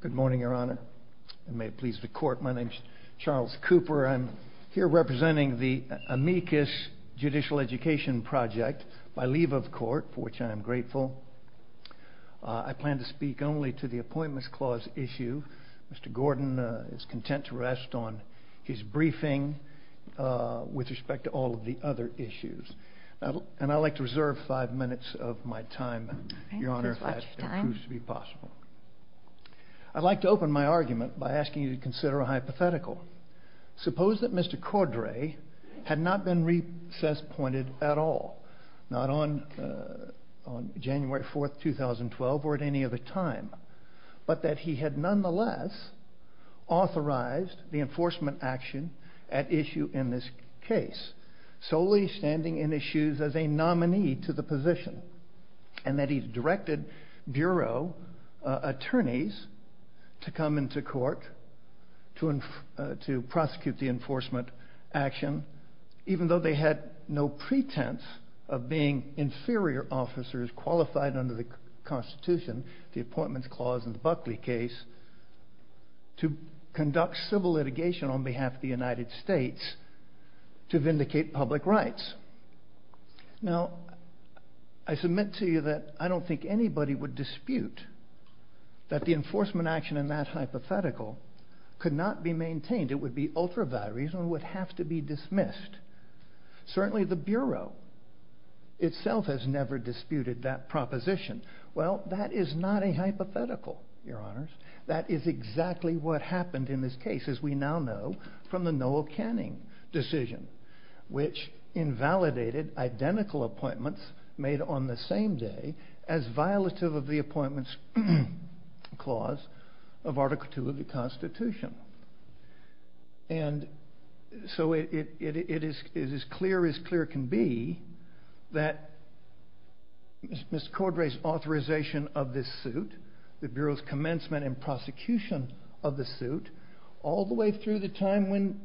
Good morning, Your Honor. May it please the Court, my name is Charles Cooper. I'm here representing the amicus judicial education project by leave of court for which I am grateful. I plan to speak only to the Appointments Clause issue. Mr. Gordon is content to rest on his briefing with respect to all of the other issues. And I'd like to reserve five minutes of my time, Your Honor, if that proves to be possible. I'd like to open my argument by asking you to consider a hypothetical. Suppose that Mr. Cordray had not been recess-pointed at all, not on January 4th, 2012 or at any other time, but that he had nonetheless authorized the enforcement action at issue in this case, solely standing in his shoes as a nominee to the position. And that he directed bureau attorneys to come into court to prosecute the enforcement action, even though they had no pretense of being inferior officers qualified under the Constitution, the Appointments Clause and the Buckley case, to conduct civil litigation on behalf of the United Rights. Now, I submit to you that I don't think anybody would dispute that the enforcement action in that hypothetical could not be maintained. It would be ultra-valuable and would have to be dismissed. Certainly the Bureau itself has never disputed that proposition. Well, that is not a hypothetical, Your Honors. That is exactly what happened in this case, as we now know from the invalidated identical appointments made on the same day as violative of the Appointments Clause of Article 2 of the Constitution. And so it is as clear as clear can be that Mr. Cordray's authorization of this suit, the Bureau's commencement and prosecution of the suit, all the way through the time when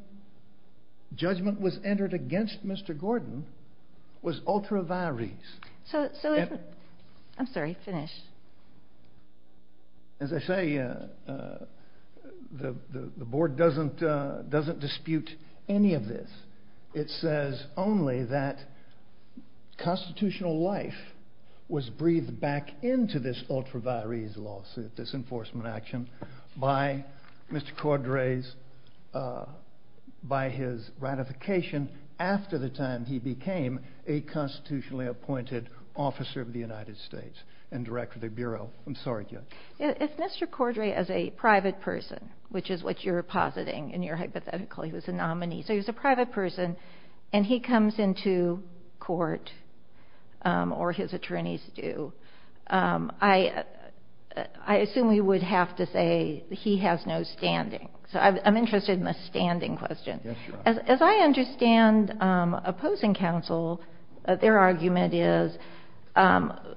judgment was entered against Mr. Gordon, was ultra-varies. So, I'm sorry, finish. As I say, the Board doesn't dispute any of this. It says only that constitutional life was breathed back into this ultra-varies lawsuit, this enforcement action, by Mr. Cordray's, by his ratification after the time he became a constitutionally appointed officer of the United States and director of the Bureau. I'm sorry, Judge. If Mr. Cordray, as a private person, which is what you're positing in your hypothetical, he was a nominee, so he was a private person, and he comes into court, or his attorneys do, I assume we would have to say he has no standing. So I'm interested in the standing question. As I understand opposing counsel, their argument is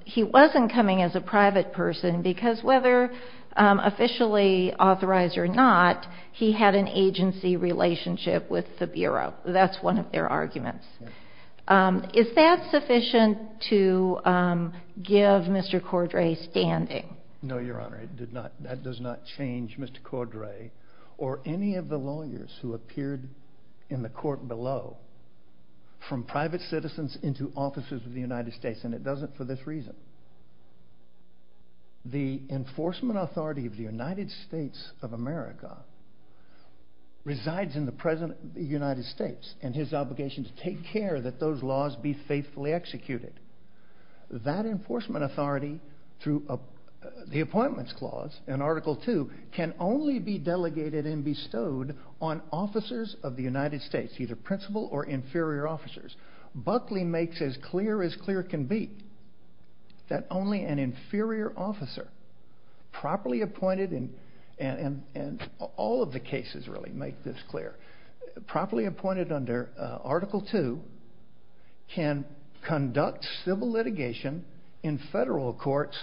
he wasn't coming as a private person because whether officially authorized or not, he had an agency relationship with the Bureau. That's one of their arguments. Is that sufficient to give Mr. Cordray standing? No, Your Honor. That does not change Mr. Cordray or any of the lawyers who appeared in the court below from private citizens into officers of the United States, and it doesn't for this reason. The enforcement authority of the United States of America resides in the United States and his obligation to take care that those laws be faithfully executed. That enforcement authority, through the appointments clause in Article 2, can only be delegated and bestowed on officers of the United States, either principal or inferior officers. Buckley makes as clear as clear can be that only an inferior officer, properly appointed under Article 2, can conduct civil litigation in federal courts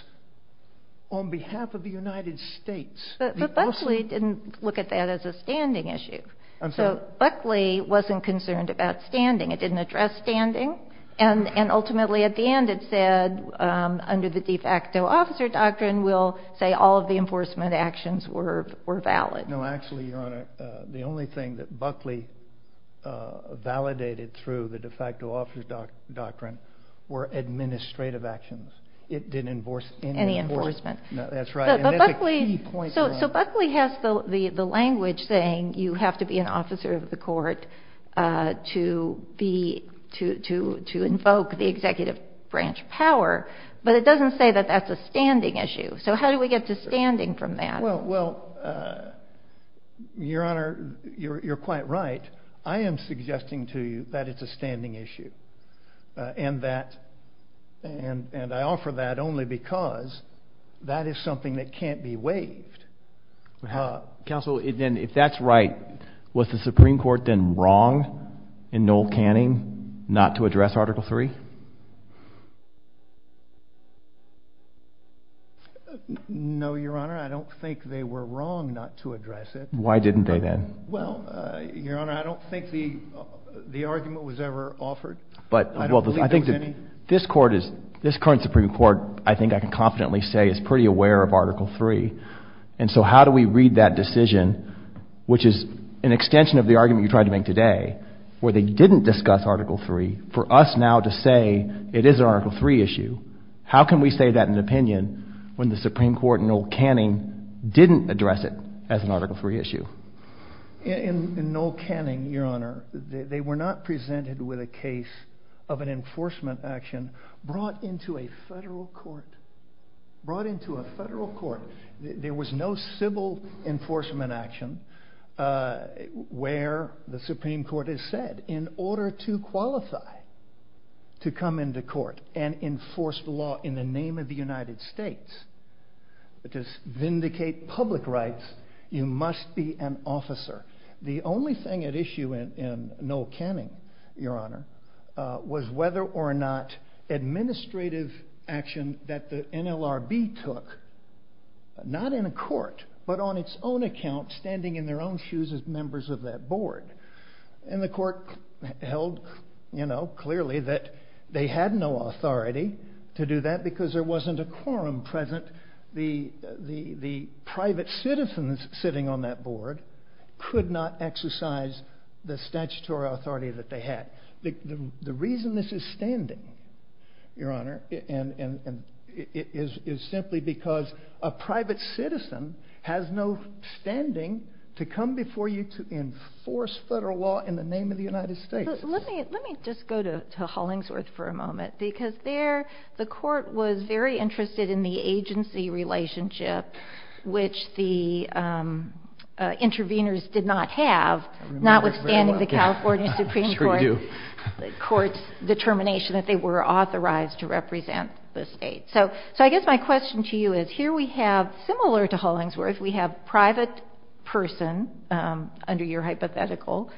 on behalf of the United States. But Buckley didn't look at that as a standing issue. So Buckley wasn't concerned about standing. It didn't address standing, and ultimately at the end it said, under the de facto officer doctrine, we'll say all of the enforcement actions were valid. No, actually, Your Honor, the only thing that Buckley validated through the de facto officer doctrine were administrative actions. It didn't enforce any enforcement. That's right. So Buckley has the language saying you have to be an officer of the court to invoke the executive branch power, but it doesn't say that that's a standing issue. So how do we get to standing from that? Well, Your Honor, you're quite right. I am suggesting to you that it's a standing issue, and I offer that only because that is something that can't be waived. Counsel, if that's right, was the Supreme Court then wrong in Noel Canning not to address Article 3? No, Your Honor, I don't think they were wrong not to address it. Why didn't they then? Well, Your Honor, I don't think the argument was ever offered. I don't believe there was any. This court is, this current Supreme Court, I think I can confidently say is pretty aware of Article 3. And so how do we read that decision, which is an extension of the argument you tried to make today, where they didn't discuss Article 3, for us now to say it is an Article 3 issue? How can we say that in an opinion when the Supreme Court in Noel Canning didn't address it as an Article 3 issue? In Noel Canning, Your Honor, they were not presented with a case of an enforcement action brought into a federal court. Brought into a federal court. There was no civil enforcement action where the Supreme Court has said, in order to qualify to come into court and enforce the law in the name of the United States, to vindicate public rights, you must be an officer. The only thing at issue in Noel Canning, Your Honor, was whether or not administrative action that the NLRB took, not in a court, but on its own account, standing in their own shoes as members of that board. And the court held, you know, clearly that they had no authority to do that because there wasn't a quorum present. The private citizens sitting on that board could not exercise the statutory authority that they had. The reason this is standing, Your Honor, is simply because a private citizen has no standing to come before you to enforce federal law in the name of the United States. Let me just go to Hollingsworth for a moment because there the court was very interested in the agency relationship which the intervenors did not have, notwithstanding the California Supreme Court. The court's determination that they were authorized to represent the state. So I guess my question to you is, here we have, similar to Hollingsworth, we have private person, under your hypothetical,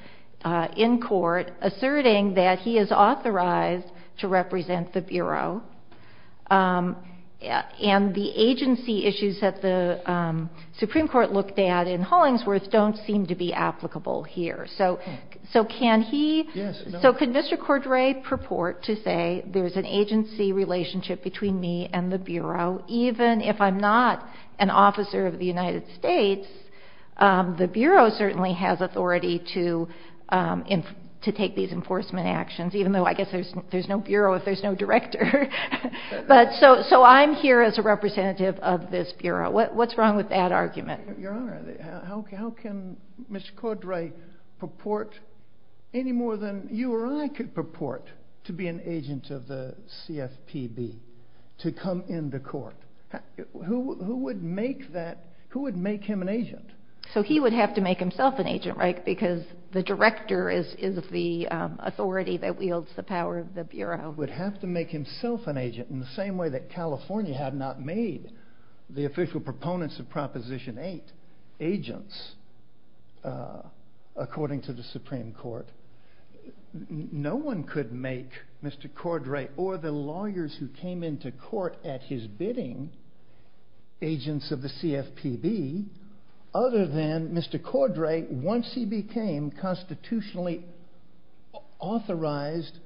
in court, asserting that he is authorized to represent the Bureau. And the agency issues that the Supreme Court looked at in Hollingsworth don't seem to be applicable here. So can he, so can Mr. Cordray purport to say there's an agency relationship between me and the Bureau, even if I'm not an officer of the United States, the Bureau certainly has authority to take these enforcement actions, even though I guess there's no Bureau if there's no director. But so I'm here as a representative of this Bureau. What's wrong with that argument? Your Honor, how can Mr. Cordray purport any more than you or I could purport to be an agent of the CFPB to come into court? Who would make that, who would make him an agent? So he would have to make himself an agent, right? Because the director is the authority that wields the power of the Bureau. He would have to make himself an agent in the same way that California had not made the official proponents of Proposition 8 agents, according to the Supreme Court. No one could make Mr. Cordray or the lawyers who came into court at his bidding agents of the CFPB, other than Mr. Cordray, once he became constitutionally authorized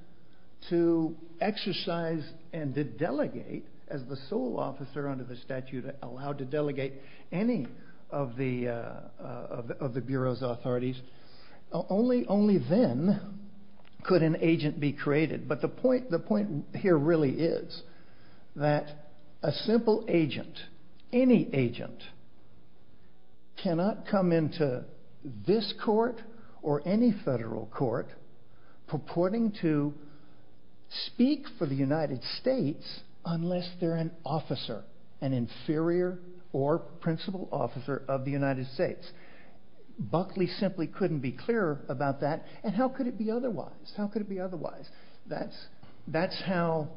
to exercise and to delegate, as the sole officer under the statute allowed to delegate any of the Bureau's authorities, only then could an agent be created. But the point here really is that a simple agent, any agent, cannot come into this court or any federal court purporting to speak for the United States unless they're an officer, an inferior or principal officer of the United States. Buckley simply couldn't be clearer about that. And how could it be otherwise? How could it be otherwise? That's how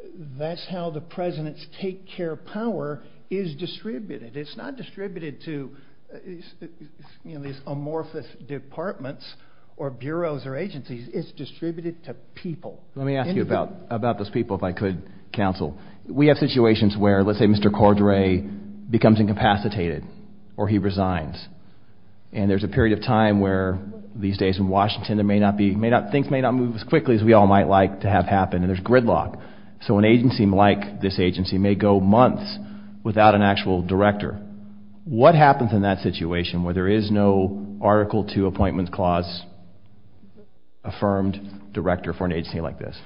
the president's take-care power is distributed. It's not distributed to these amorphous departments or bureaus or agencies. It's distributed to people. Let me ask you about those people, if I could, counsel. We have situations where, let's say, Mr. Cordray becomes incapacitated or he resigns, and there's a period of time where, these days in Washington, things may not move as quickly as we all might like to have happen, and there's gridlock. So an agency like this agency may go months without an actual director. What happens in that situation where there is no Article II Appointments Clause-affirmed director for an agency like this?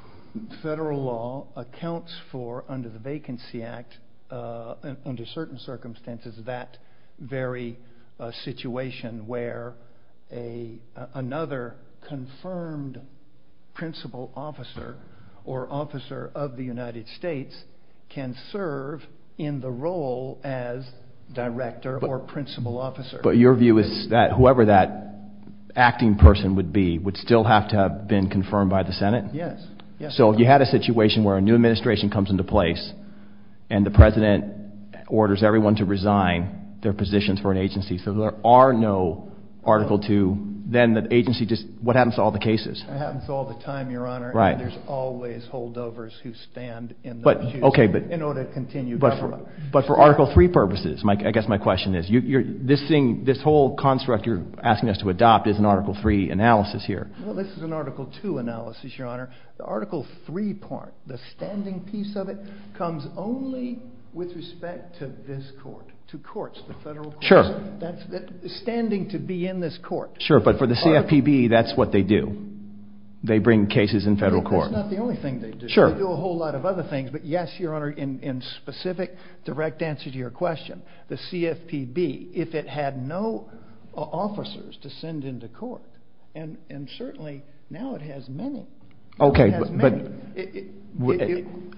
Federal law accounts for, under the Vacancy Act, under certain circumstances, that very situation where another confirmed principal officer or officer of the United States can serve in the role as director or principal officer. But your view is that whoever that acting person would be would still have to have been confirmed by the Senate? Yes. So if you had a situation where a new administration comes into place, and the President orders everyone to resign their positions for an agency, so there are no Article II, then the agency just, what happens to all the cases? It happens all the time, Your Honor. Right. And there's always holdovers who stand in those shoes in order to continue government. But for Article III purposes, I guess my question is, this whole construct you're asking us to adopt is an Article III analysis here. Well, this is an Article II analysis, Your Honor. The Article III part, the standing piece of it, comes only with respect to this court, to courts, the federal courts. Sure. Standing to be in this court. Sure, but for the CFPB, that's what they do. They bring cases in federal court. That's not the only thing they do. Sure. They do a whole lot of other things. But yes, Your Honor, in specific, direct answer to your question, the CFPB, if it had no officers to send into court, and certainly now it has many. Okay, but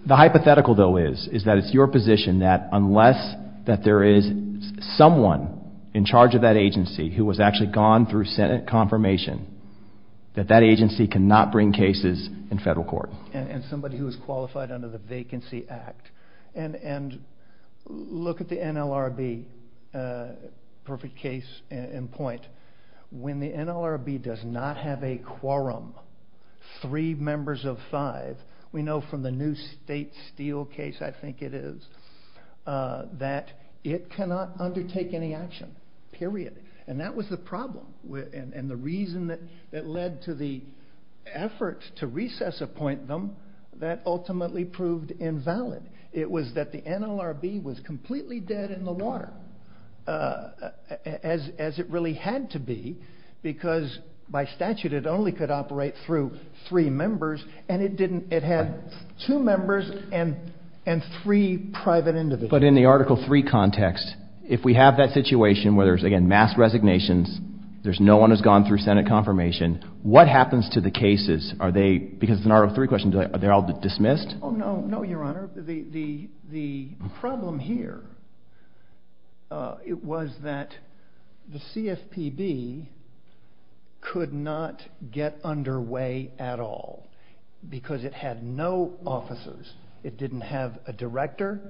the hypothetical, though, is that it's your position that unless that there is someone in charge of that agency who has actually gone through Senate confirmation, that that agency cannot bring cases in federal court. And somebody who is qualified under the Vacancy Act. And look at the NLRB, perfect case in point. When the NLRB does not have a quorum, three members of five, we know from the new State Steel case, I think it is, that it cannot undertake any action, period. And that was the problem. And the reason that led to the efforts to recess appoint them, that ultimately proved invalid. It was that the NLRB was completely dead in the water, as it really had to be, because by statute it only could operate through three members, and it had two members and three private individuals. But in the Article III context, if we have that situation where there's, again, mass resignations, there's no one who's gone through Senate confirmation, what happens to the cases? Are they, because it's an Article III question, are they all dismissed? Oh, no, no, Your Honor. The problem here was that the CFPB could not get underway at all because it had no officers. It didn't have a director,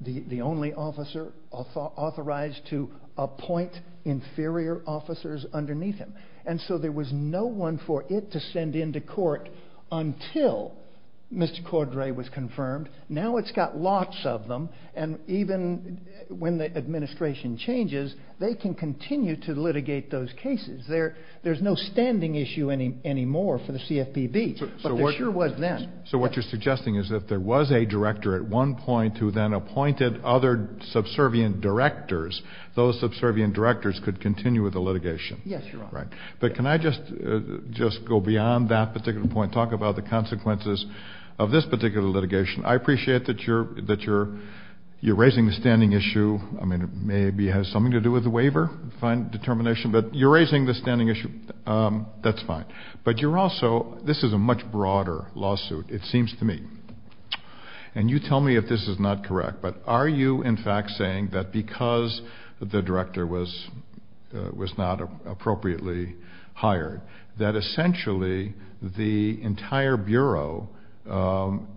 the only officer authorized to appoint inferior officers underneath him. And so there was no one for it to send into court until Mr. Cordray was confirmed. Now it's got lots of them, and even when the administration changes, they can continue to litigate those cases. There's no standing issue anymore for the CFPB, but there sure was then. So what you're suggesting is that if there was a director at one point who then appointed other subservient directors, those subservient directors could continue with the litigation? Yes, Your Honor. Right. But can I just go beyond that particular point, talk about the consequences of this particular litigation? I appreciate that you're raising the standing issue. I mean, maybe it has something to do with the waiver determination, but you're raising the standing issue. That's fine. But you're also, this is a much broader lawsuit, it seems to me, and you tell me if this is not correct, but are you, in fact, saying that because the director was not appropriately hired, that essentially the entire Bureau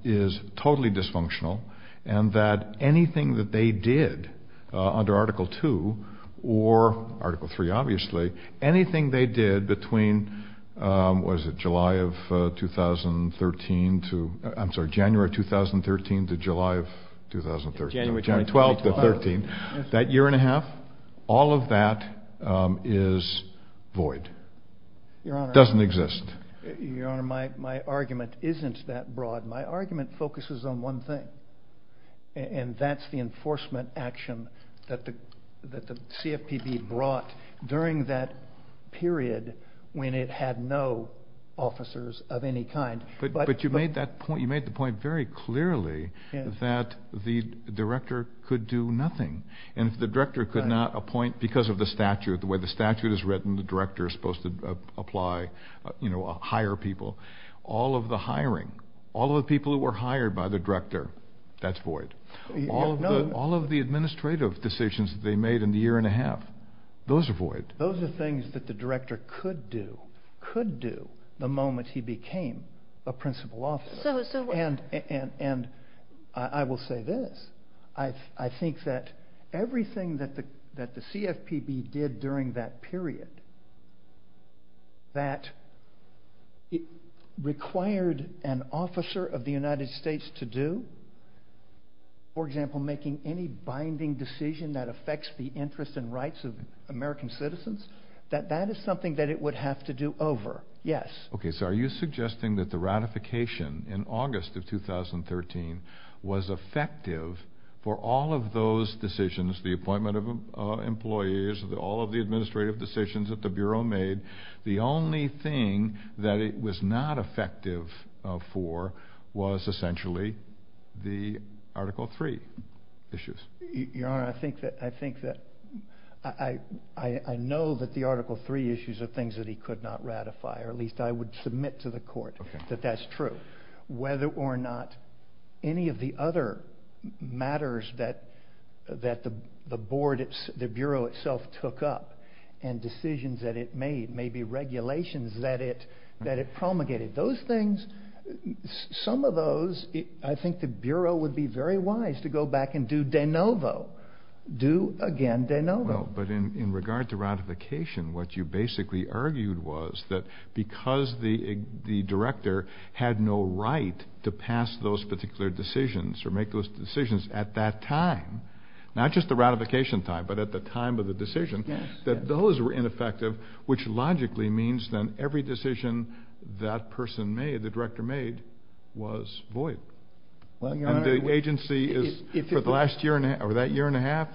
is totally dysfunctional, and that anything that they did under Article II or Article III, obviously, anything they did between, what is it, July of 2013 to, I'm sorry, January of 2013 to July of 2013, January 12th of 13, that year and a half, all of that is void, doesn't exist. Your Honor, my argument isn't that broad. My argument focuses on one thing, and that's the enforcement action that the CFPB brought during that period when it had no officers of any kind. But you made the point very clearly that the director could do nothing, and if the director could not appoint, because of the statute, the way the statute is written, the director is supposed to apply, hire people, all of the hiring, all of the people who were hired by the director, that's void. All of the administrative decisions that they made in the year and a half, those are void. Those are things that the director could do, could do, the moment he became a principal officer. And I will say this. I think that everything that the CFPB did during that period that it required an officer of the United States to do, for example, making any binding decision that affects the interests and rights of American citizens, that that is something that it would have to do over, yes. Okay, so are you suggesting that the ratification in August of 2013 was effective for all of those decisions, the appointment of employees, all of the administrative decisions that the Bureau made, the only thing that it was not effective for was essentially the Article III issues? Your Honor, I think that I know that the Article III issues are things that he could not ratify, or at least I would submit to the Court that that's true. Whether or not any of the other matters that the Bureau itself took up and decisions that it made, maybe regulations that it promulgated, those things, some of those I think the Bureau would be very wise to go back and do de novo, do again de novo. But in regard to ratification, what you basically argued was that because the director had no right to pass those particular decisions or make those decisions at that time, not just the ratification time, but at the time of the decision, that those were ineffective, which logically means then every decision that person made, the director made, was void. And the agency, for that year and a half,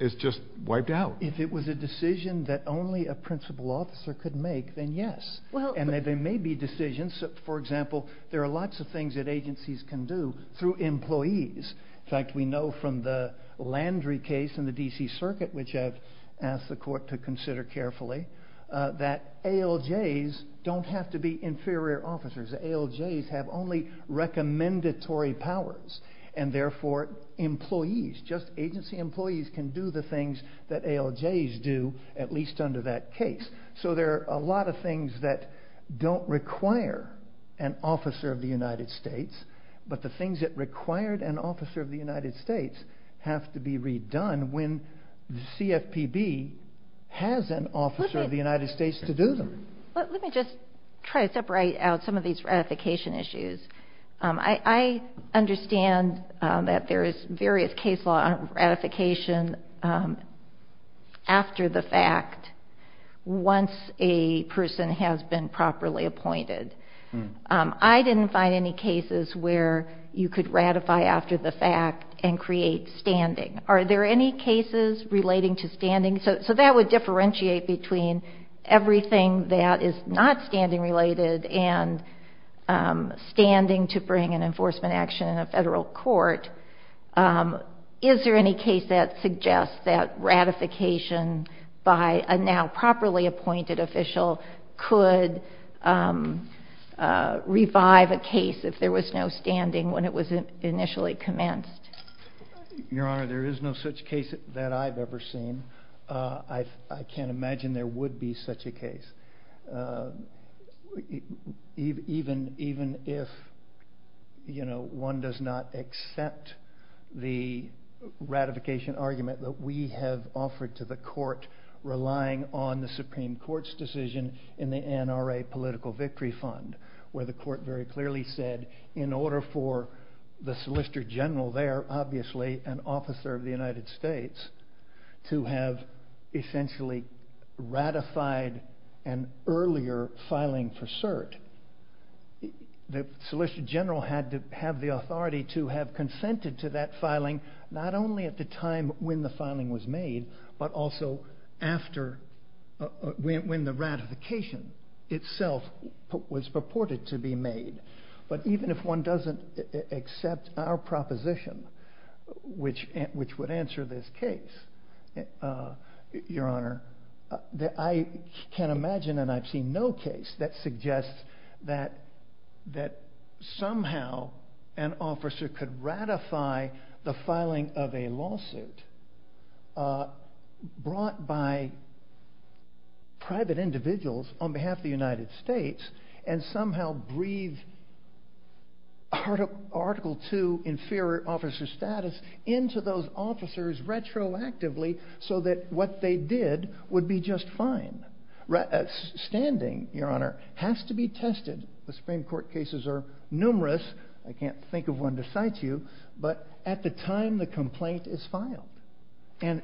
is just wiped out. If it was a decision that only a principal officer could make, then yes. And there may be decisions, for example, there are lots of things that agencies can do through employees. In fact, we know from the Landry case in the D.C. Circuit, which I've asked the Court to consider carefully, that ALJs don't have to be inferior officers. The ALJs have only recommendatory powers, and therefore employees, just agency employees, can do the things that ALJs do, at least under that case. So there are a lot of things that don't require an officer of the United States, but the things that required an officer of the United States have to be redone when the CFPB has an officer of the United States to do them. Let me just try to separate out some of these ratification issues. I understand that there is various case law on ratification after the fact, once a person has been properly appointed. I didn't find any cases where you could ratify after the fact and create standing. Are there any cases relating to standing? So that would differentiate between everything that is not standing related and standing to bring an enforcement action in a federal court. Is there any case that suggests that ratification by a now properly appointed official could revive a case if there was no standing when it was initially commenced? Your Honor, there is no such case that I've ever seen. I can't imagine there would be such a case. Even if one does not accept the ratification argument that we have offered to the court relying on the Supreme Court's decision in the NRA Political Victory Fund where the court very clearly said in order for the Solicitor General there, obviously an officer of the United States, to have essentially ratified an earlier filing for cert, the Solicitor General had to have the authority to have consented to that filing not only at the time when the filing was made, but also when the ratification itself was purported to be made. But even if one doesn't accept our proposition, which would answer this case, Your Honor, I can't imagine and I've seen no case that suggests that somehow an officer could ratify the filing of a lawsuit brought by private individuals on behalf of the United States and somehow breathe Article 2, Inferior Officer Status, into those officers retroactively so that what they did would be just fine. Standing, Your Honor, has to be tested. The Supreme Court cases are numerous. I can't think of one to cite you, but at the time the complaint is filed and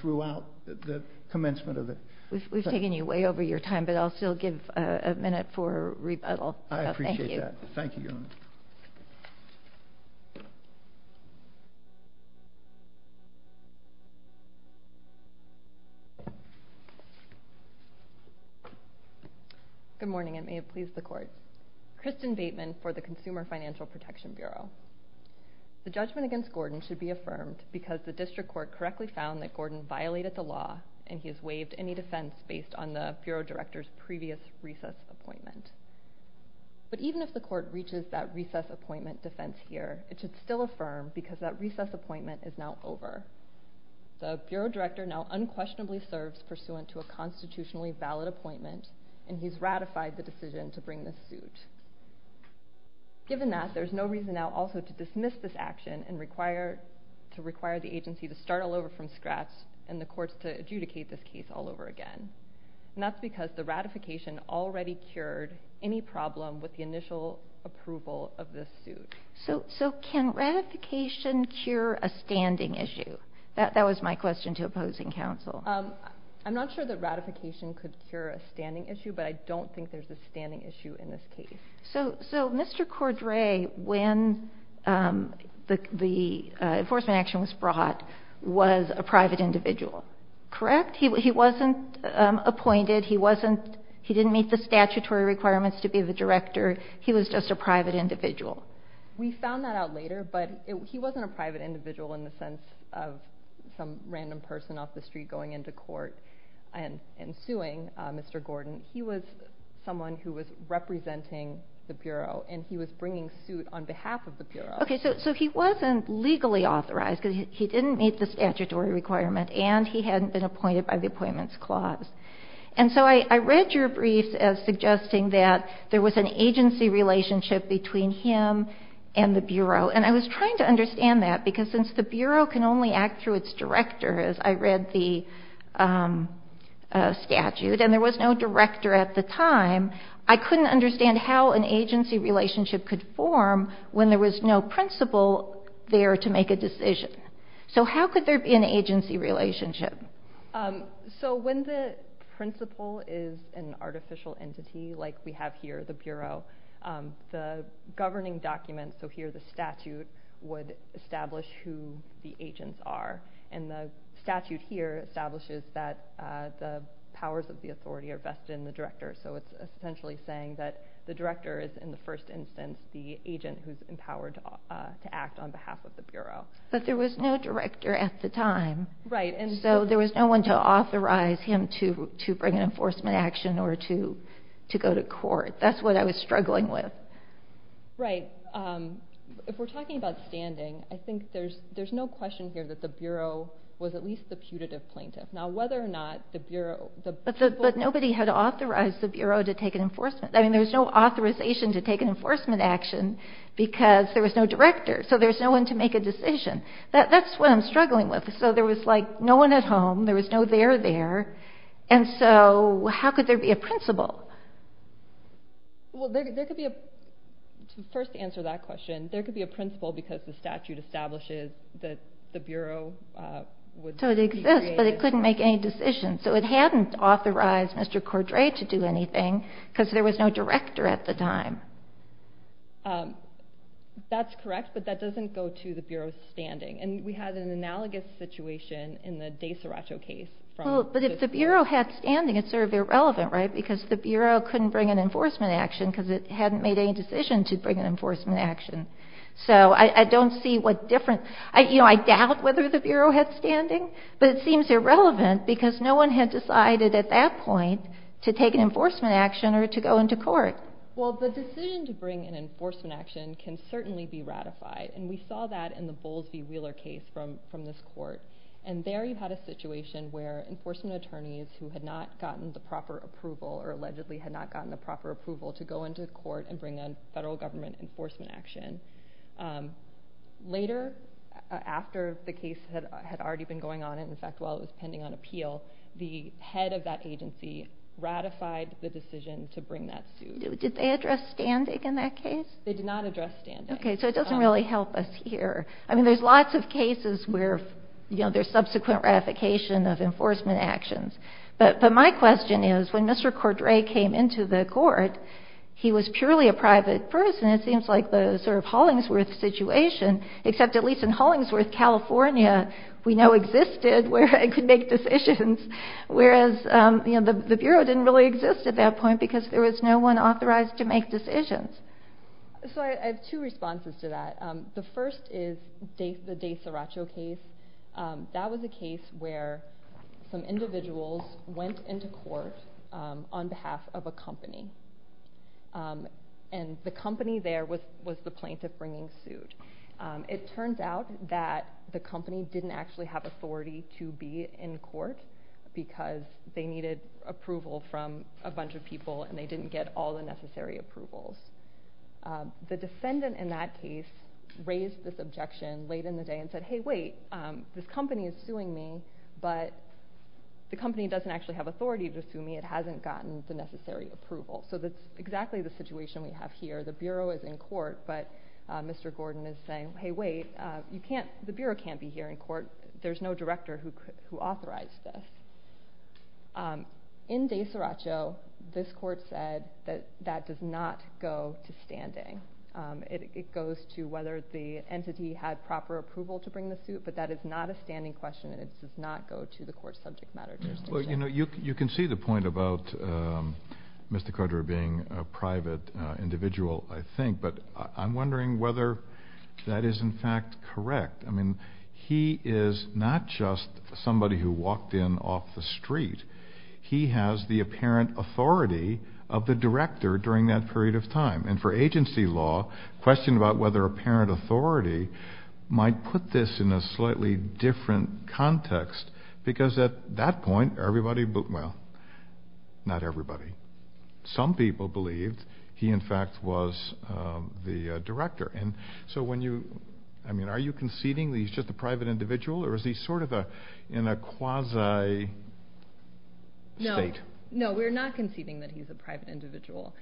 throughout the commencement of it. We've taken you way over your time, but I'll still give a minute for rebuttal. I appreciate that. Thank you, Your Honor. Good morning and may it please the Court. Kristen Bateman for the Consumer Financial Protection Bureau. The judgment against Gordon should be affirmed and he has waived any defense based on the Bureau Director's previous recess appointment. But even if the Court reaches that recess appointment defense here, it should still affirm because that recess appointment is now over. The Bureau Director now unquestionably serves pursuant to a constitutionally valid appointment and he's ratified the decision to bring this suit. Given that, there's no reason now also to dismiss this action and to require the agency to start all over from scratch and the courts to adjudicate this case all over again. And that's because the ratification already cured any problem with the initial approval of this suit. So can ratification cure a standing issue? That was my question to opposing counsel. I'm not sure that ratification could cure a standing issue, but I don't think there's a standing issue in this case. So Mr. Cordray, when the enforcement action was brought, was a private individual, correct? He wasn't appointed. He didn't meet the statutory requirements to be the Director. He was just a private individual. We found that out later, but he wasn't a private individual in the sense of some random person off the street going into court and suing Mr. Gordon. He was someone who was representing the Bureau and he was bringing suit on behalf of the Bureau. Okay, so he wasn't legally authorized because he didn't meet the statutory requirement and he hadn't been appointed by the Appointments Clause. And so I read your briefs as suggesting that there was an agency relationship between him and the Bureau, and I was trying to understand that because since the Bureau can only act through its Director, as I read the statute, and there was no Director at the time, I couldn't understand how an agency relationship could form when there was no principal there to make a decision. So how could there be an agency relationship? So when the principal is an artificial entity like we have here, the Bureau, the governing documents, so here the statute, would establish who the agents are. And the statute here establishes that the powers of the authority are vested in the Director. So it's essentially saying that the Director is in the first instance the agent who's empowered to act on behalf of the Bureau. But there was no Director at the time. So there was no one to authorize him to bring an enforcement action or to go to court. That's what I was struggling with. Right. If we're talking about standing, I think there's no question here that the Bureau was at least the putative plaintiff. Now, whether or not the Bureau... But nobody had authorized the Bureau to take an enforcement. I mean, there was no authorization to take an enforcement action because there was no Director, so there was no one to make a decision. That's what I'm struggling with. So there was, like, no one at home, there was no there there, and so how could there be a principal? Well, there could be a... To first answer that question, there could be a principal because the statute establishes that the Bureau would be created... So it exists, but it couldn't make any decisions. So it hadn't authorized Mr. Cordray to do anything because there was no Director at the time. That's correct, but that doesn't go to the Bureau's standing. And we had an analogous situation in the Desaracho case. But if the Bureau had standing, it's sort of irrelevant, right, because the Bureau couldn't bring an enforcement action because it hadn't made any decision to bring an enforcement action. So I don't see what difference... You know, I doubt whether the Bureau had standing, but it seems irrelevant because no one had decided at that point to take an enforcement action or to go into court. Well, the decision to bring an enforcement action can certainly be ratified, and we saw that in the Bowles v. Wheeler case from this court. And there you had a situation where enforcement attorneys who had not gotten the proper approval or allegedly had not gotten the proper approval to go into court and bring a federal government enforcement action. Later, after the case had already been going on, and, in fact, while it was pending on appeal, the head of that agency ratified the decision to bring that suit. Did they address standing in that case? They did not address standing. Okay, so it doesn't really help us here. I mean, there's lots of cases where, you know, there's subsequent ratification of enforcement actions. But my question is, when Mr. Cordray came into the court, he was purely a private person. It seems like the sort of Hollingsworth situation, except at least in Hollingsworth, California, we know existed where it could make decisions, whereas the Bureau didn't really exist at that point because there was no one authorized to make decisions. So I have two responses to that. The first is the Day-Saracho case. That was a case where some individuals went into court on behalf of a company, and the company there was the plaintiff bringing suit. It turns out that the company didn't actually have authority to be in court because they needed approval from a bunch of people and they didn't get all the necessary approvals. The defendant in that case raised this objection late in the day and said, hey, wait, this company is suing me, but the company doesn't actually have authority to sue me. It hasn't gotten the necessary approval. So that's exactly the situation we have here. The Bureau is in court, but Mr. Gordon is saying, hey, wait, the Bureau can't be here in court. There's no director who authorized this. In Day-Saracho, this court said that that does not go to standing. It goes to whether the entity had proper approval to bring the suit, but that is not a standing question and it does not go to the court's subject matter jurisdiction. You can see the point about Mr. Carter being a private individual, I think, but I'm wondering whether that is in fact correct. I mean, he is not just somebody who walked in off the street. He has the apparent authority of the director during that period of time. And for agency law, the question about whether apparent authority might put this in a slightly different context, because at that point everybody, well, not everybody, some people believed he, in fact, was the director. I mean, are you conceding that he's just a private individual or is he sort of in a quasi state? No, we're not conceding that he's a private individual.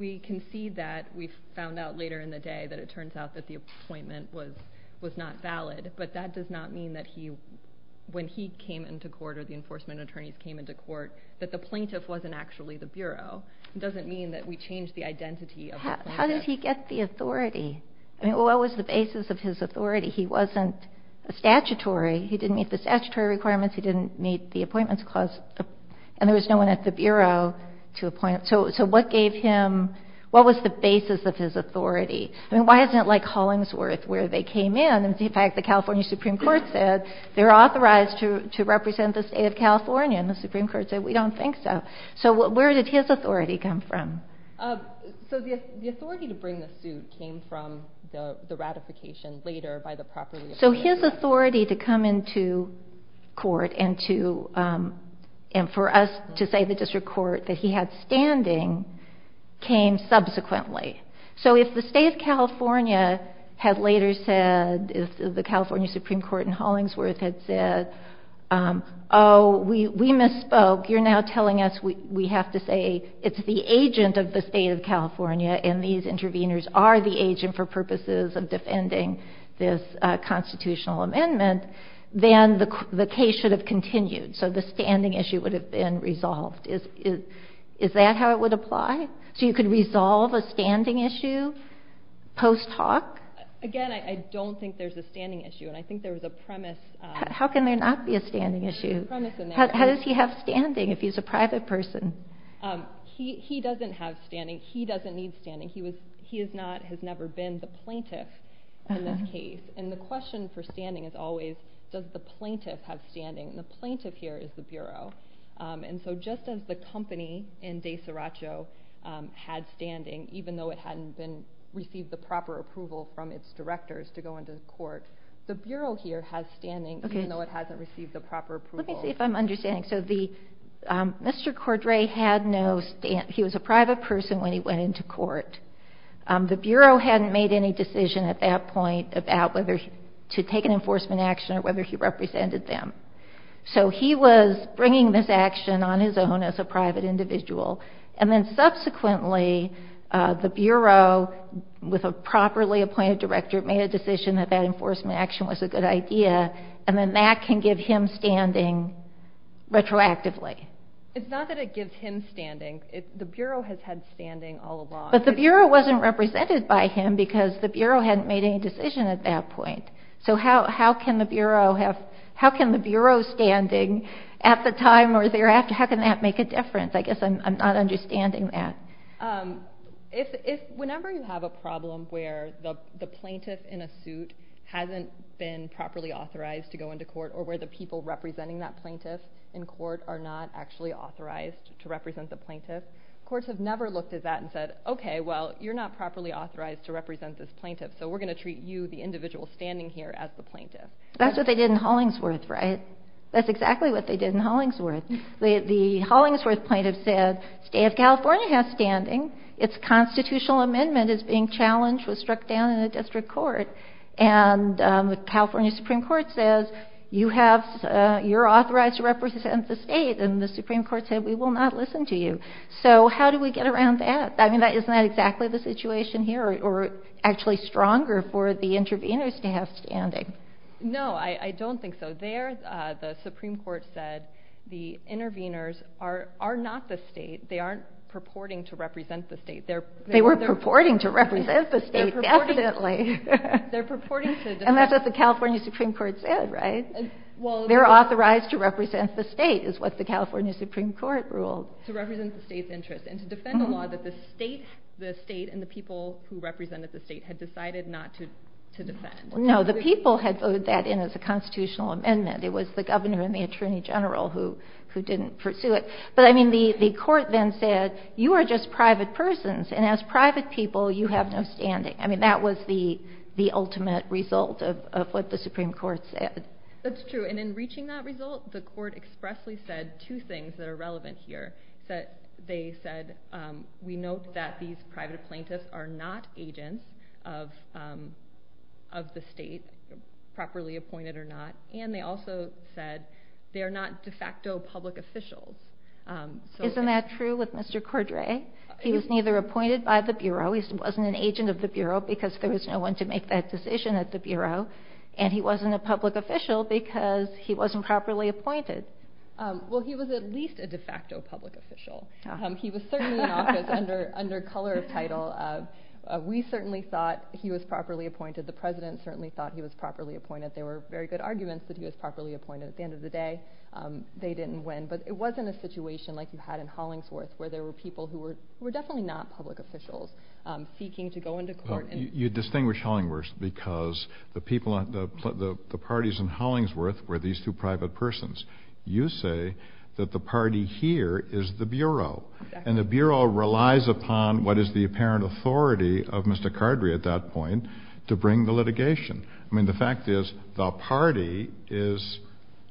We concede that. We found out later in the day that it turns out that the appointment was not valid, but that does not mean that when he came into court or the enforcement attorneys came into court that the plaintiff wasn't actually the Bureau. It doesn't mean that we changed the identity of the plaintiff. How did he get the authority? I mean, what was the basis of his authority? He wasn't statutory. He didn't meet the statutory requirements. He didn't meet the appointments clause. And there was no one at the Bureau to appoint him. So what gave him, what was the basis of his authority? I mean, why isn't it like Hollingsworth where they came in and in fact the California Supreme Court said they're authorized to represent the state of California and the Supreme Court said we don't think so. So where did his authority come from? So the authority to bring the suit came from the ratification later by the property. So his authority to come into court and for us to say the district court that he had standing came subsequently. So if the state of California had later said, if the California Supreme Court in Hollingsworth had said, oh, we misspoke, you're now telling us we have to say it's the agent of the state of California and these interveners are the agent for purposes of defending this constitutional amendment, then the case should have continued. So the standing issue would have been resolved. Is that how it would apply? So you could resolve a standing issue post-talk? Again, I don't think there's a standing issue, and I think there was a premise. How can there not be a standing issue? How does he have standing if he's a private person? He doesn't have standing. He doesn't need standing. He has never been the plaintiff in this case. And the question for standing is always, does the plaintiff have standing? And the plaintiff here is the Bureau. And so just as the company in DeSaracho had standing, even though it hadn't received the proper approval from its directors to go into court, the Bureau here has standing even though it hasn't received the proper approval. Let me see if I'm understanding. Mr. Cordray had no standing. He was a private person when he went into court. The Bureau hadn't made any decision at that point about whether to take an enforcement action or whether he represented them. So he was bringing this action on his own as a private individual, and then subsequently the Bureau, with a properly appointed director, made a decision that that enforcement action was a good idea, and then that can give him standing retroactively. It's not that it gives him standing. The Bureau has had standing all along. But the Bureau wasn't represented by him because the Bureau hadn't made any decision at that point. So how can the Bureau standing at the time or thereafter, how can that make a difference? I guess I'm not understanding that. Whenever you have a problem where the plaintiff in a suit hasn't been properly authorized to go into court or where the people representing that plaintiff in court are not actually authorized to represent the plaintiff, courts have never looked at that and said, okay, well, you're not properly authorized to represent this plaintiff, so we're going to treat you, the individual standing here, as the plaintiff. That's what they did in Hollingsworth, right? That's exactly what they did in Hollingsworth. The Hollingsworth plaintiff said, State of California has standing. Its constitutional amendment is being challenged, was struck down in the district court. And the California Supreme Court says, you're authorized to represent the state, and the Supreme Court said, we will not listen to you. So how do we get around that? I mean, isn't that exactly the situation here or actually stronger for the interveners to have standing? No, I don't think so. The Supreme Court said the interveners are not the state. They aren't purporting to represent the state. They were purporting to represent the state, definitely. They're purporting to defend the state. And that's what the California Supreme Court said, right? They're authorized to represent the state is what the California Supreme Court ruled. To represent the state's interest and to defend a law that the state and the people who represented the state had decided not to defend. No, the people had voted that in as a constitutional amendment. It was the governor and the attorney general who didn't pursue it. But, I mean, the court then said, you are just private persons. And as private people, you have no standing. I mean, that was the ultimate result of what the Supreme Court said. That's true. And in reaching that result, the court expressly said two things that are relevant here. They said, we note that these private plaintiffs are not agents of the state, properly appointed or not. And they also said they are not de facto public officials. Isn't that true with Mr. Cordray? He was neither appointed by the Bureau. He wasn't an agent of the Bureau because there was no one to make that decision at the Bureau. And he wasn't a public official because he wasn't properly appointed. Well, he was at least a de facto public official. He was certainly in office under color of title. We certainly thought he was properly appointed. The President certainly thought he was properly appointed. There were very good arguments that he was properly appointed. At the end of the day, they didn't win. But it wasn't a situation like you had in Hollingsworth where there were people who were definitely not public officials seeking to go into court. You distinguish Hollingsworth because the parties in Hollingsworth were these two private persons. You say that the party here is the Bureau. And the Bureau relies upon what is the apparent authority of Mr. Cordray at that point to bring the litigation. I mean, the fact is the party is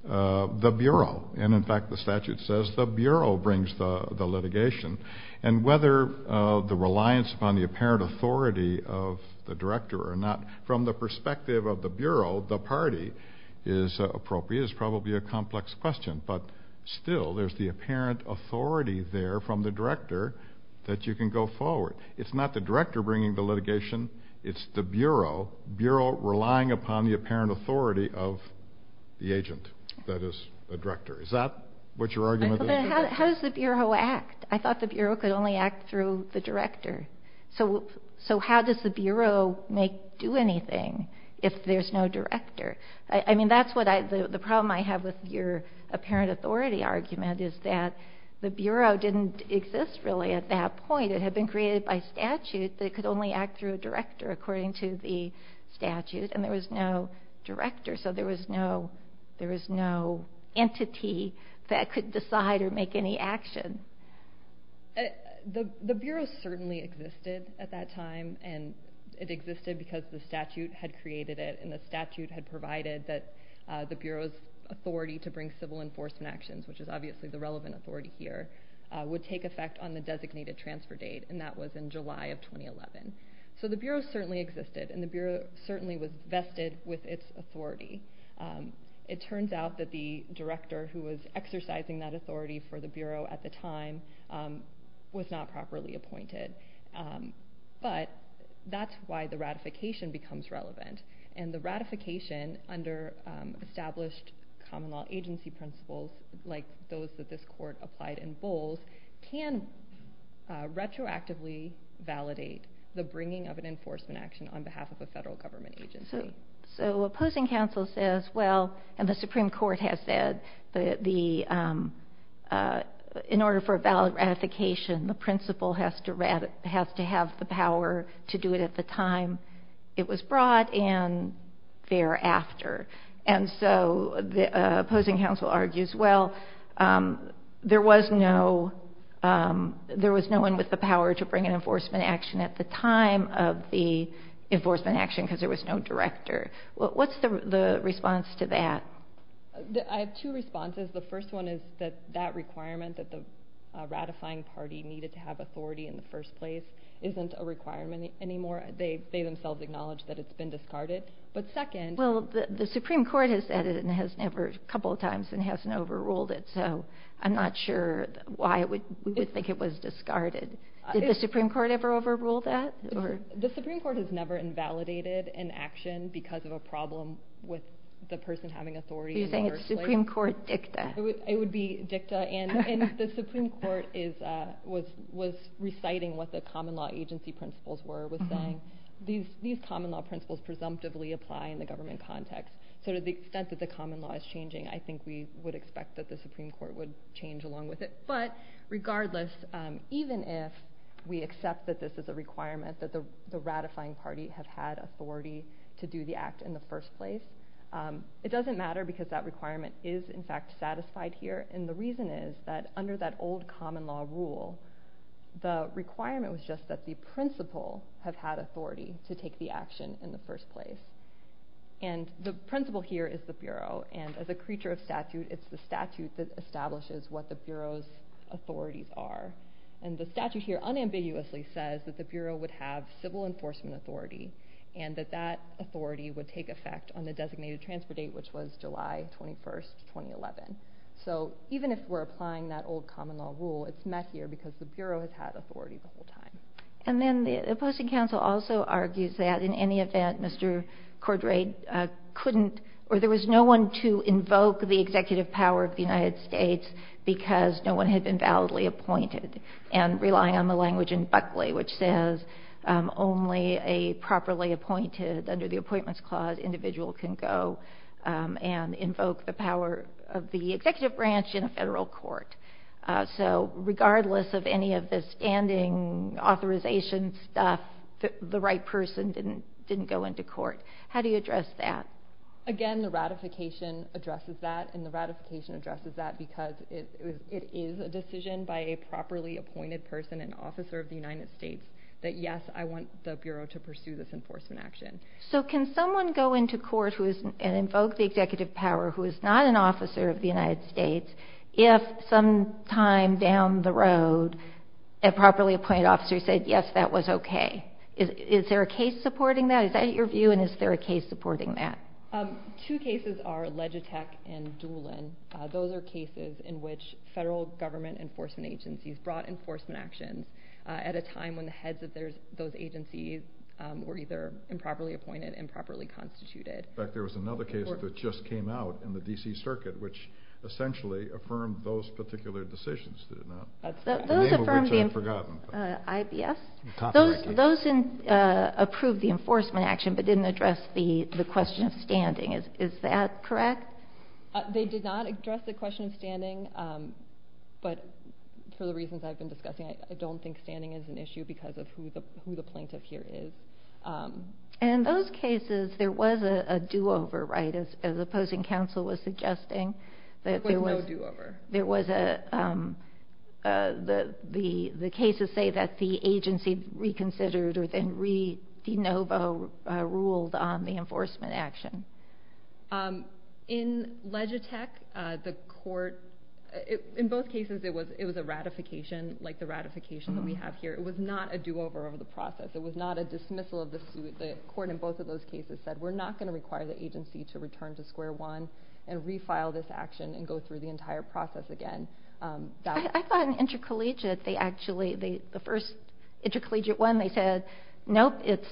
the Bureau. And, in fact, the statute says the Bureau brings the litigation. And whether the reliance upon the apparent authority of the Director or not, from the perspective of the Bureau, the party is appropriate. It's probably a complex question. But, still, there's the apparent authority there from the Director that you can go forward. It's not the Director bringing the litigation. It's the Bureau, Bureau relying upon the apparent authority of the agent, that is, the Director. Is that what your argument is? How does the Bureau act? I thought the Bureau could only act through the Director. So how does the Bureau do anything if there's no Director? I mean, that's the problem I have with your apparent authority argument, is that the Bureau didn't exist, really, at that point. It had been created by statute that it could only act through a Director, according to the statute. And there was no Director. So there was no entity that could decide or make any action. The Bureau certainly existed at that time, and it existed because the statute had created it, and the statute had provided that the Bureau's authority to bring civil enforcement actions, which is obviously the relevant authority here, would take effect on the designated transfer date, and that was in July of 2011. So the Bureau certainly existed, and the Bureau certainly was vested with its authority. It turns out that the Director who was exercising that authority for the Bureau at the time was not properly appointed. But that's why the ratification becomes relevant, and the ratification under established common law agency principles, like those that this Court applied in Bowles, can retroactively validate the bringing of an enforcement action on behalf of a federal government agency. So Opposing Counsel says, well, and the Supreme Court has said, in order for a valid ratification, the principle has to have the power to do it at the time it was brought and thereafter. And so Opposing Counsel argues, well, there was no one with the power to bring an enforcement action at the time of the enforcement action because there was no Director. What's the response to that? I have two responses. The first one is that that requirement, that the ratifying party needed to have authority in the first place, isn't a requirement anymore. They themselves acknowledge that it's been discarded. But second— Well, the Supreme Court has said it a couple of times and hasn't overruled it, so I'm not sure why we would think it was discarded. Did the Supreme Court ever overrule that? The Supreme Court has never invalidated an action because of a problem with the person having authority in the first place. Do you think it's Supreme Court dicta? It would be dicta. And the Supreme Court was reciting what the common law agency principles were, was saying these common law principles presumptively apply in the government context. So to the extent that the common law is changing, I think we would expect that the Supreme Court would change along with it. But regardless, even if we accept that this is a requirement, that the ratifying party have had authority to do the act in the first place, it doesn't matter because that requirement is, in fact, satisfied here. And the reason is that under that old common law rule, the requirement was just that the principle have had authority to take the action in the first place. And the principle here is the Bureau. And as a creature of statute, it's the statute that establishes what the Bureau's authorities are. And the statute here unambiguously says that the Bureau would have civil enforcement authority and that that authority would take effect on the designated transfer date, which was July 21, 2011. So even if we're applying that old common law rule, it's messier because the Bureau has had authority the whole time. And then the opposing counsel also argues that in any event, Mr. Cordray couldn't or there was no one to invoke the executive power of the United States because no one had been validly appointed and relying on the language in Buckley, which says only a properly appointed under the appointments clause individual can go and invoke the power of the executive branch in a federal court. So regardless of any of the standing authorization stuff, the right person didn't go into court. How do you address that? Again, the ratification addresses that, and the ratification addresses that because it is a decision by a properly appointed person, an officer of the United States, that yes, I want the Bureau to pursue this enforcement action. So can someone go into court and invoke the executive power who is not an officer of the United States if sometime down the road a properly appointed officer said, yes, that was okay? Is there a case supporting that? Is that your view, and is there a case supporting that? Two cases are Legitech and Doolin. Those are cases in which federal government enforcement agencies brought enforcement actions at a time when the heads of those agencies were either improperly appointed, improperly constituted. In fact, there was another case that just came out in the D.C. Circuit which essentially affirmed those particular decisions. The name of which I've forgotten. Those approved the enforcement action but didn't address the question of standing. Is that correct? They did not address the question of standing, but for the reasons I've been discussing, I don't think standing is an issue because of who the plaintiff here is. In those cases, there was a do-over, right, as opposing counsel was suggesting? There was no do-over. The cases say that the agency reconsidered or then re-de novo ruled on the enforcement action. In Legitech, the court, in both cases it was a ratification like the ratification that we have here. It was not a do-over of the process. It was not a dismissal of the suit. The court in both of those cases said we're not going to require the agency to return to square one and refile this action and go through the entire process again. I thought in intercollegiate they actually, the first intercollegiate one, they said, nope, it's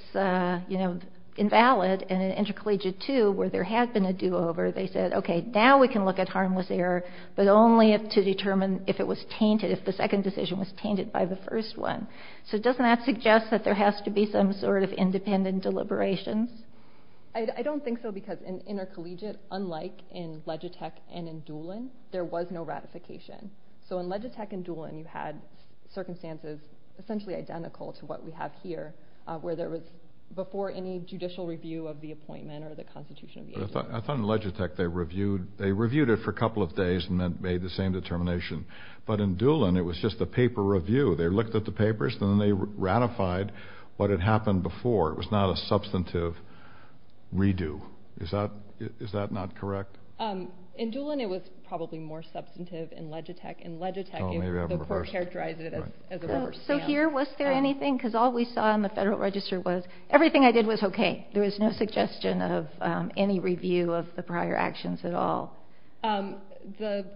invalid, and in intercollegiate two where there had been a do-over, they said, okay, now we can look at harmless error but only to determine if it was tainted, if the second decision was tainted by the first one. So doesn't that suggest that there has to be some sort of independent deliberations? I don't think so because in intercollegiate, unlike in Legitech and in Doolin, there was no ratification. So in Legitech and Doolin you had circumstances essentially identical to what we have here where there was before any judicial review of the appointment or the constitution of the agency. I thought in Legitech they reviewed it for a couple of days and made the same determination, but in Doolin it was just a paper review. They looked at the papers and then they ratified what had happened before. It was not a substantive redo. Is that not correct? In Doolin it was probably more substantive in Legitech. In Legitech the court characterized it as a reverse. So here, was there anything? Because all we saw in the Federal Register was everything I did was okay. There was no suggestion of any review of the prior actions at all. There's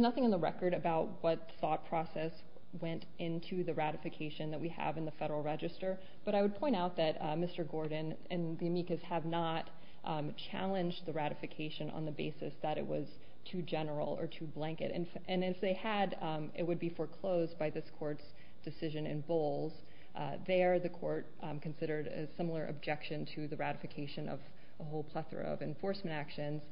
nothing in the record about what thought process went into the ratification that we have in the Federal Register, but I would point out that Mr. Gordon and the amicus have not challenged the ratification on the basis that it was too general or too blanket. If they had, it would be foreclosed by this court's decision in Bowles. There the court considered a similar objection to the ratification of a whole plethora of enforcement actions.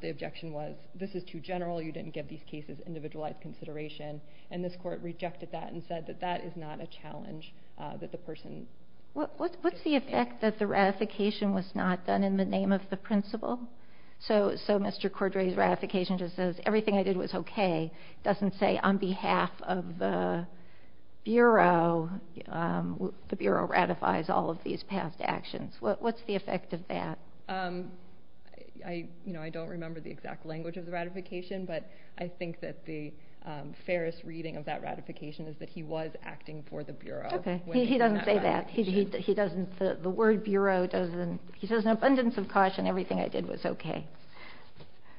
The objection was this is too general. You didn't give these cases individualized consideration, and this court rejected that and said that that is not a challenge that the person… What's the effect that the ratification was not done in the name of the principal? So Mr. Cordray's ratification just says everything I did was okay. It doesn't say on behalf of the Bureau, the Bureau ratifies all of these past actions. What's the effect of that? I don't remember the exact language of the ratification, but I think that the fairest reading of that ratification is that he was acting for the Bureau. He doesn't say that. The word Bureau doesn't…he says an abundance of caution, everything I did was okay.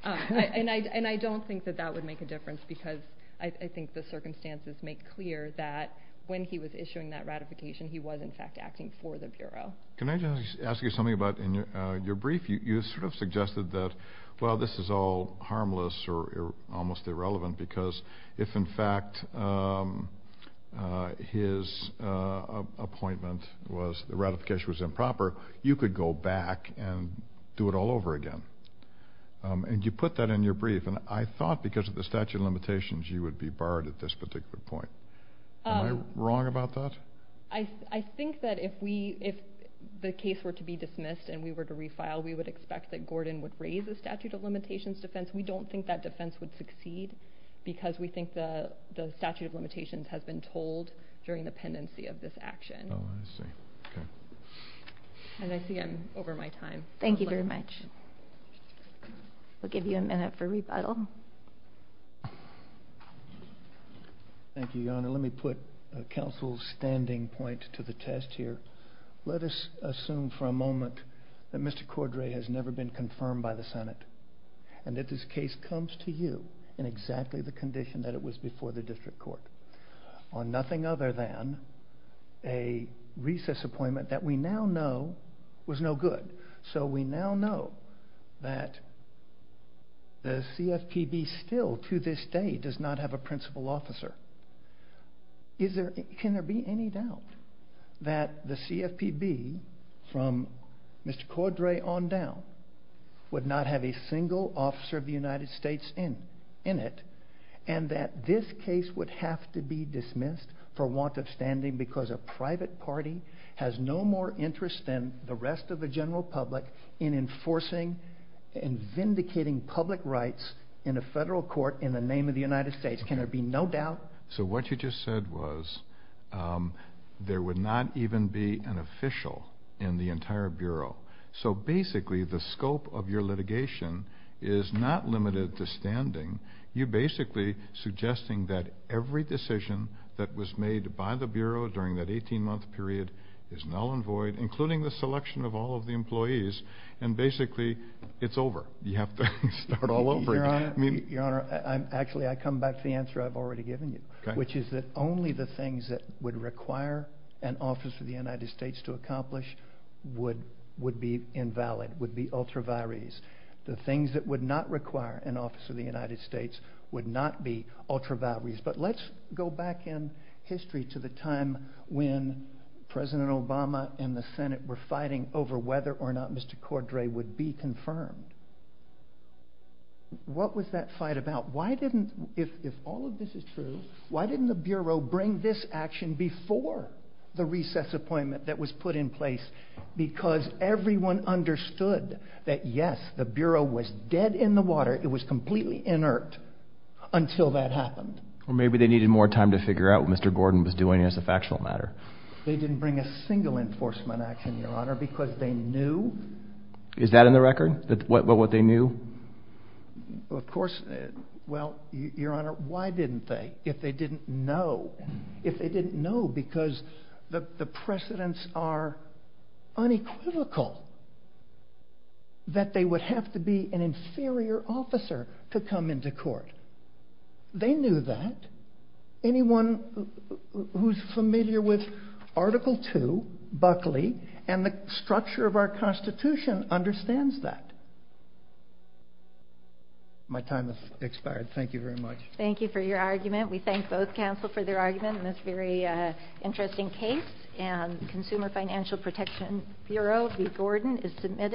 And I don't think that that would make a difference because I think the circumstances make clear that when he was issuing that ratification, he was, in fact, acting for the Bureau. Can I just ask you something about in your brief? You sort of suggested that, well, this is all harmless or almost irrelevant because if, in fact, his appointment was the ratification was improper, you could go back and do it all over again. And you put that in your brief, and I thought because of the statute of limitations you would be barred at this particular point. Am I wrong about that? I think that if the case were to be dismissed and we were to refile, we would expect that Gordon would raise the statute of limitations defense. We don't think that defense would succeed because we think the statute of limitations has been told during the pendency of this action. Oh, I see. Okay. And I see I'm over my time. Thank you very much. We'll give you a minute for rebuttal. Thank you, Yonah. Let me put counsel's standing point to the test here. Let us assume for a moment that Mr. Cordray has never been confirmed by the Senate and that this case comes to you in exactly the condition that it was before the district court on nothing other than a recess appointment that we now know was no good. So we now know that the CFPB still to this day does not have a principal officer. Can there be any doubt that the CFPB from Mr. Cordray on down would not have a single officer of the United States in it and that this case would have to be dismissed for want of standing because a private party has no more interest than the rest of the general public in enforcing and vindicating public rights in a federal court in the name of the United States? Can there be no doubt? So what you just said was there would not even be an official in the entire bureau. So basically the scope of your litigation is not limited to standing. You're basically suggesting that every decision that was made by the bureau during that 18-month period is null and void, including the selection of all of the employees, and basically it's over. You have to start all over again. Your Honor, actually I come back to the answer I've already given you, which is that only the things that would require an officer of the United States to accomplish would be invalid, would be ultra vires. The things that would not require an officer of the United States would not be ultra vires. But let's go back in history to the time when President Obama and the Senate were fighting over whether or not Mr. Cordray would be confirmed. What was that fight about? If all of this is true, why didn't the bureau bring this action before the recess appointment that was put in place because everyone understood that, yes, the bureau was dead in the water. It was completely inert until that happened. Or maybe they needed more time to figure out what Mr. Gordon was doing as a factional matter. They didn't bring a single enforcement action, Your Honor, because they knew. Is that in the record, what they knew? Of course. Well, Your Honor, why didn't they if they didn't know? Because the precedents are unequivocal that they would have to be an inferior officer to come into court. They knew that. Anyone who is familiar with Article II, Buckley, and the structure of our Constitution understands that. My time has expired. Thank you very much. Thank you for your argument. We thank both counsel for their argument on this very interesting case. Consumer Financial Protection Bureau v. Gordon is submitted.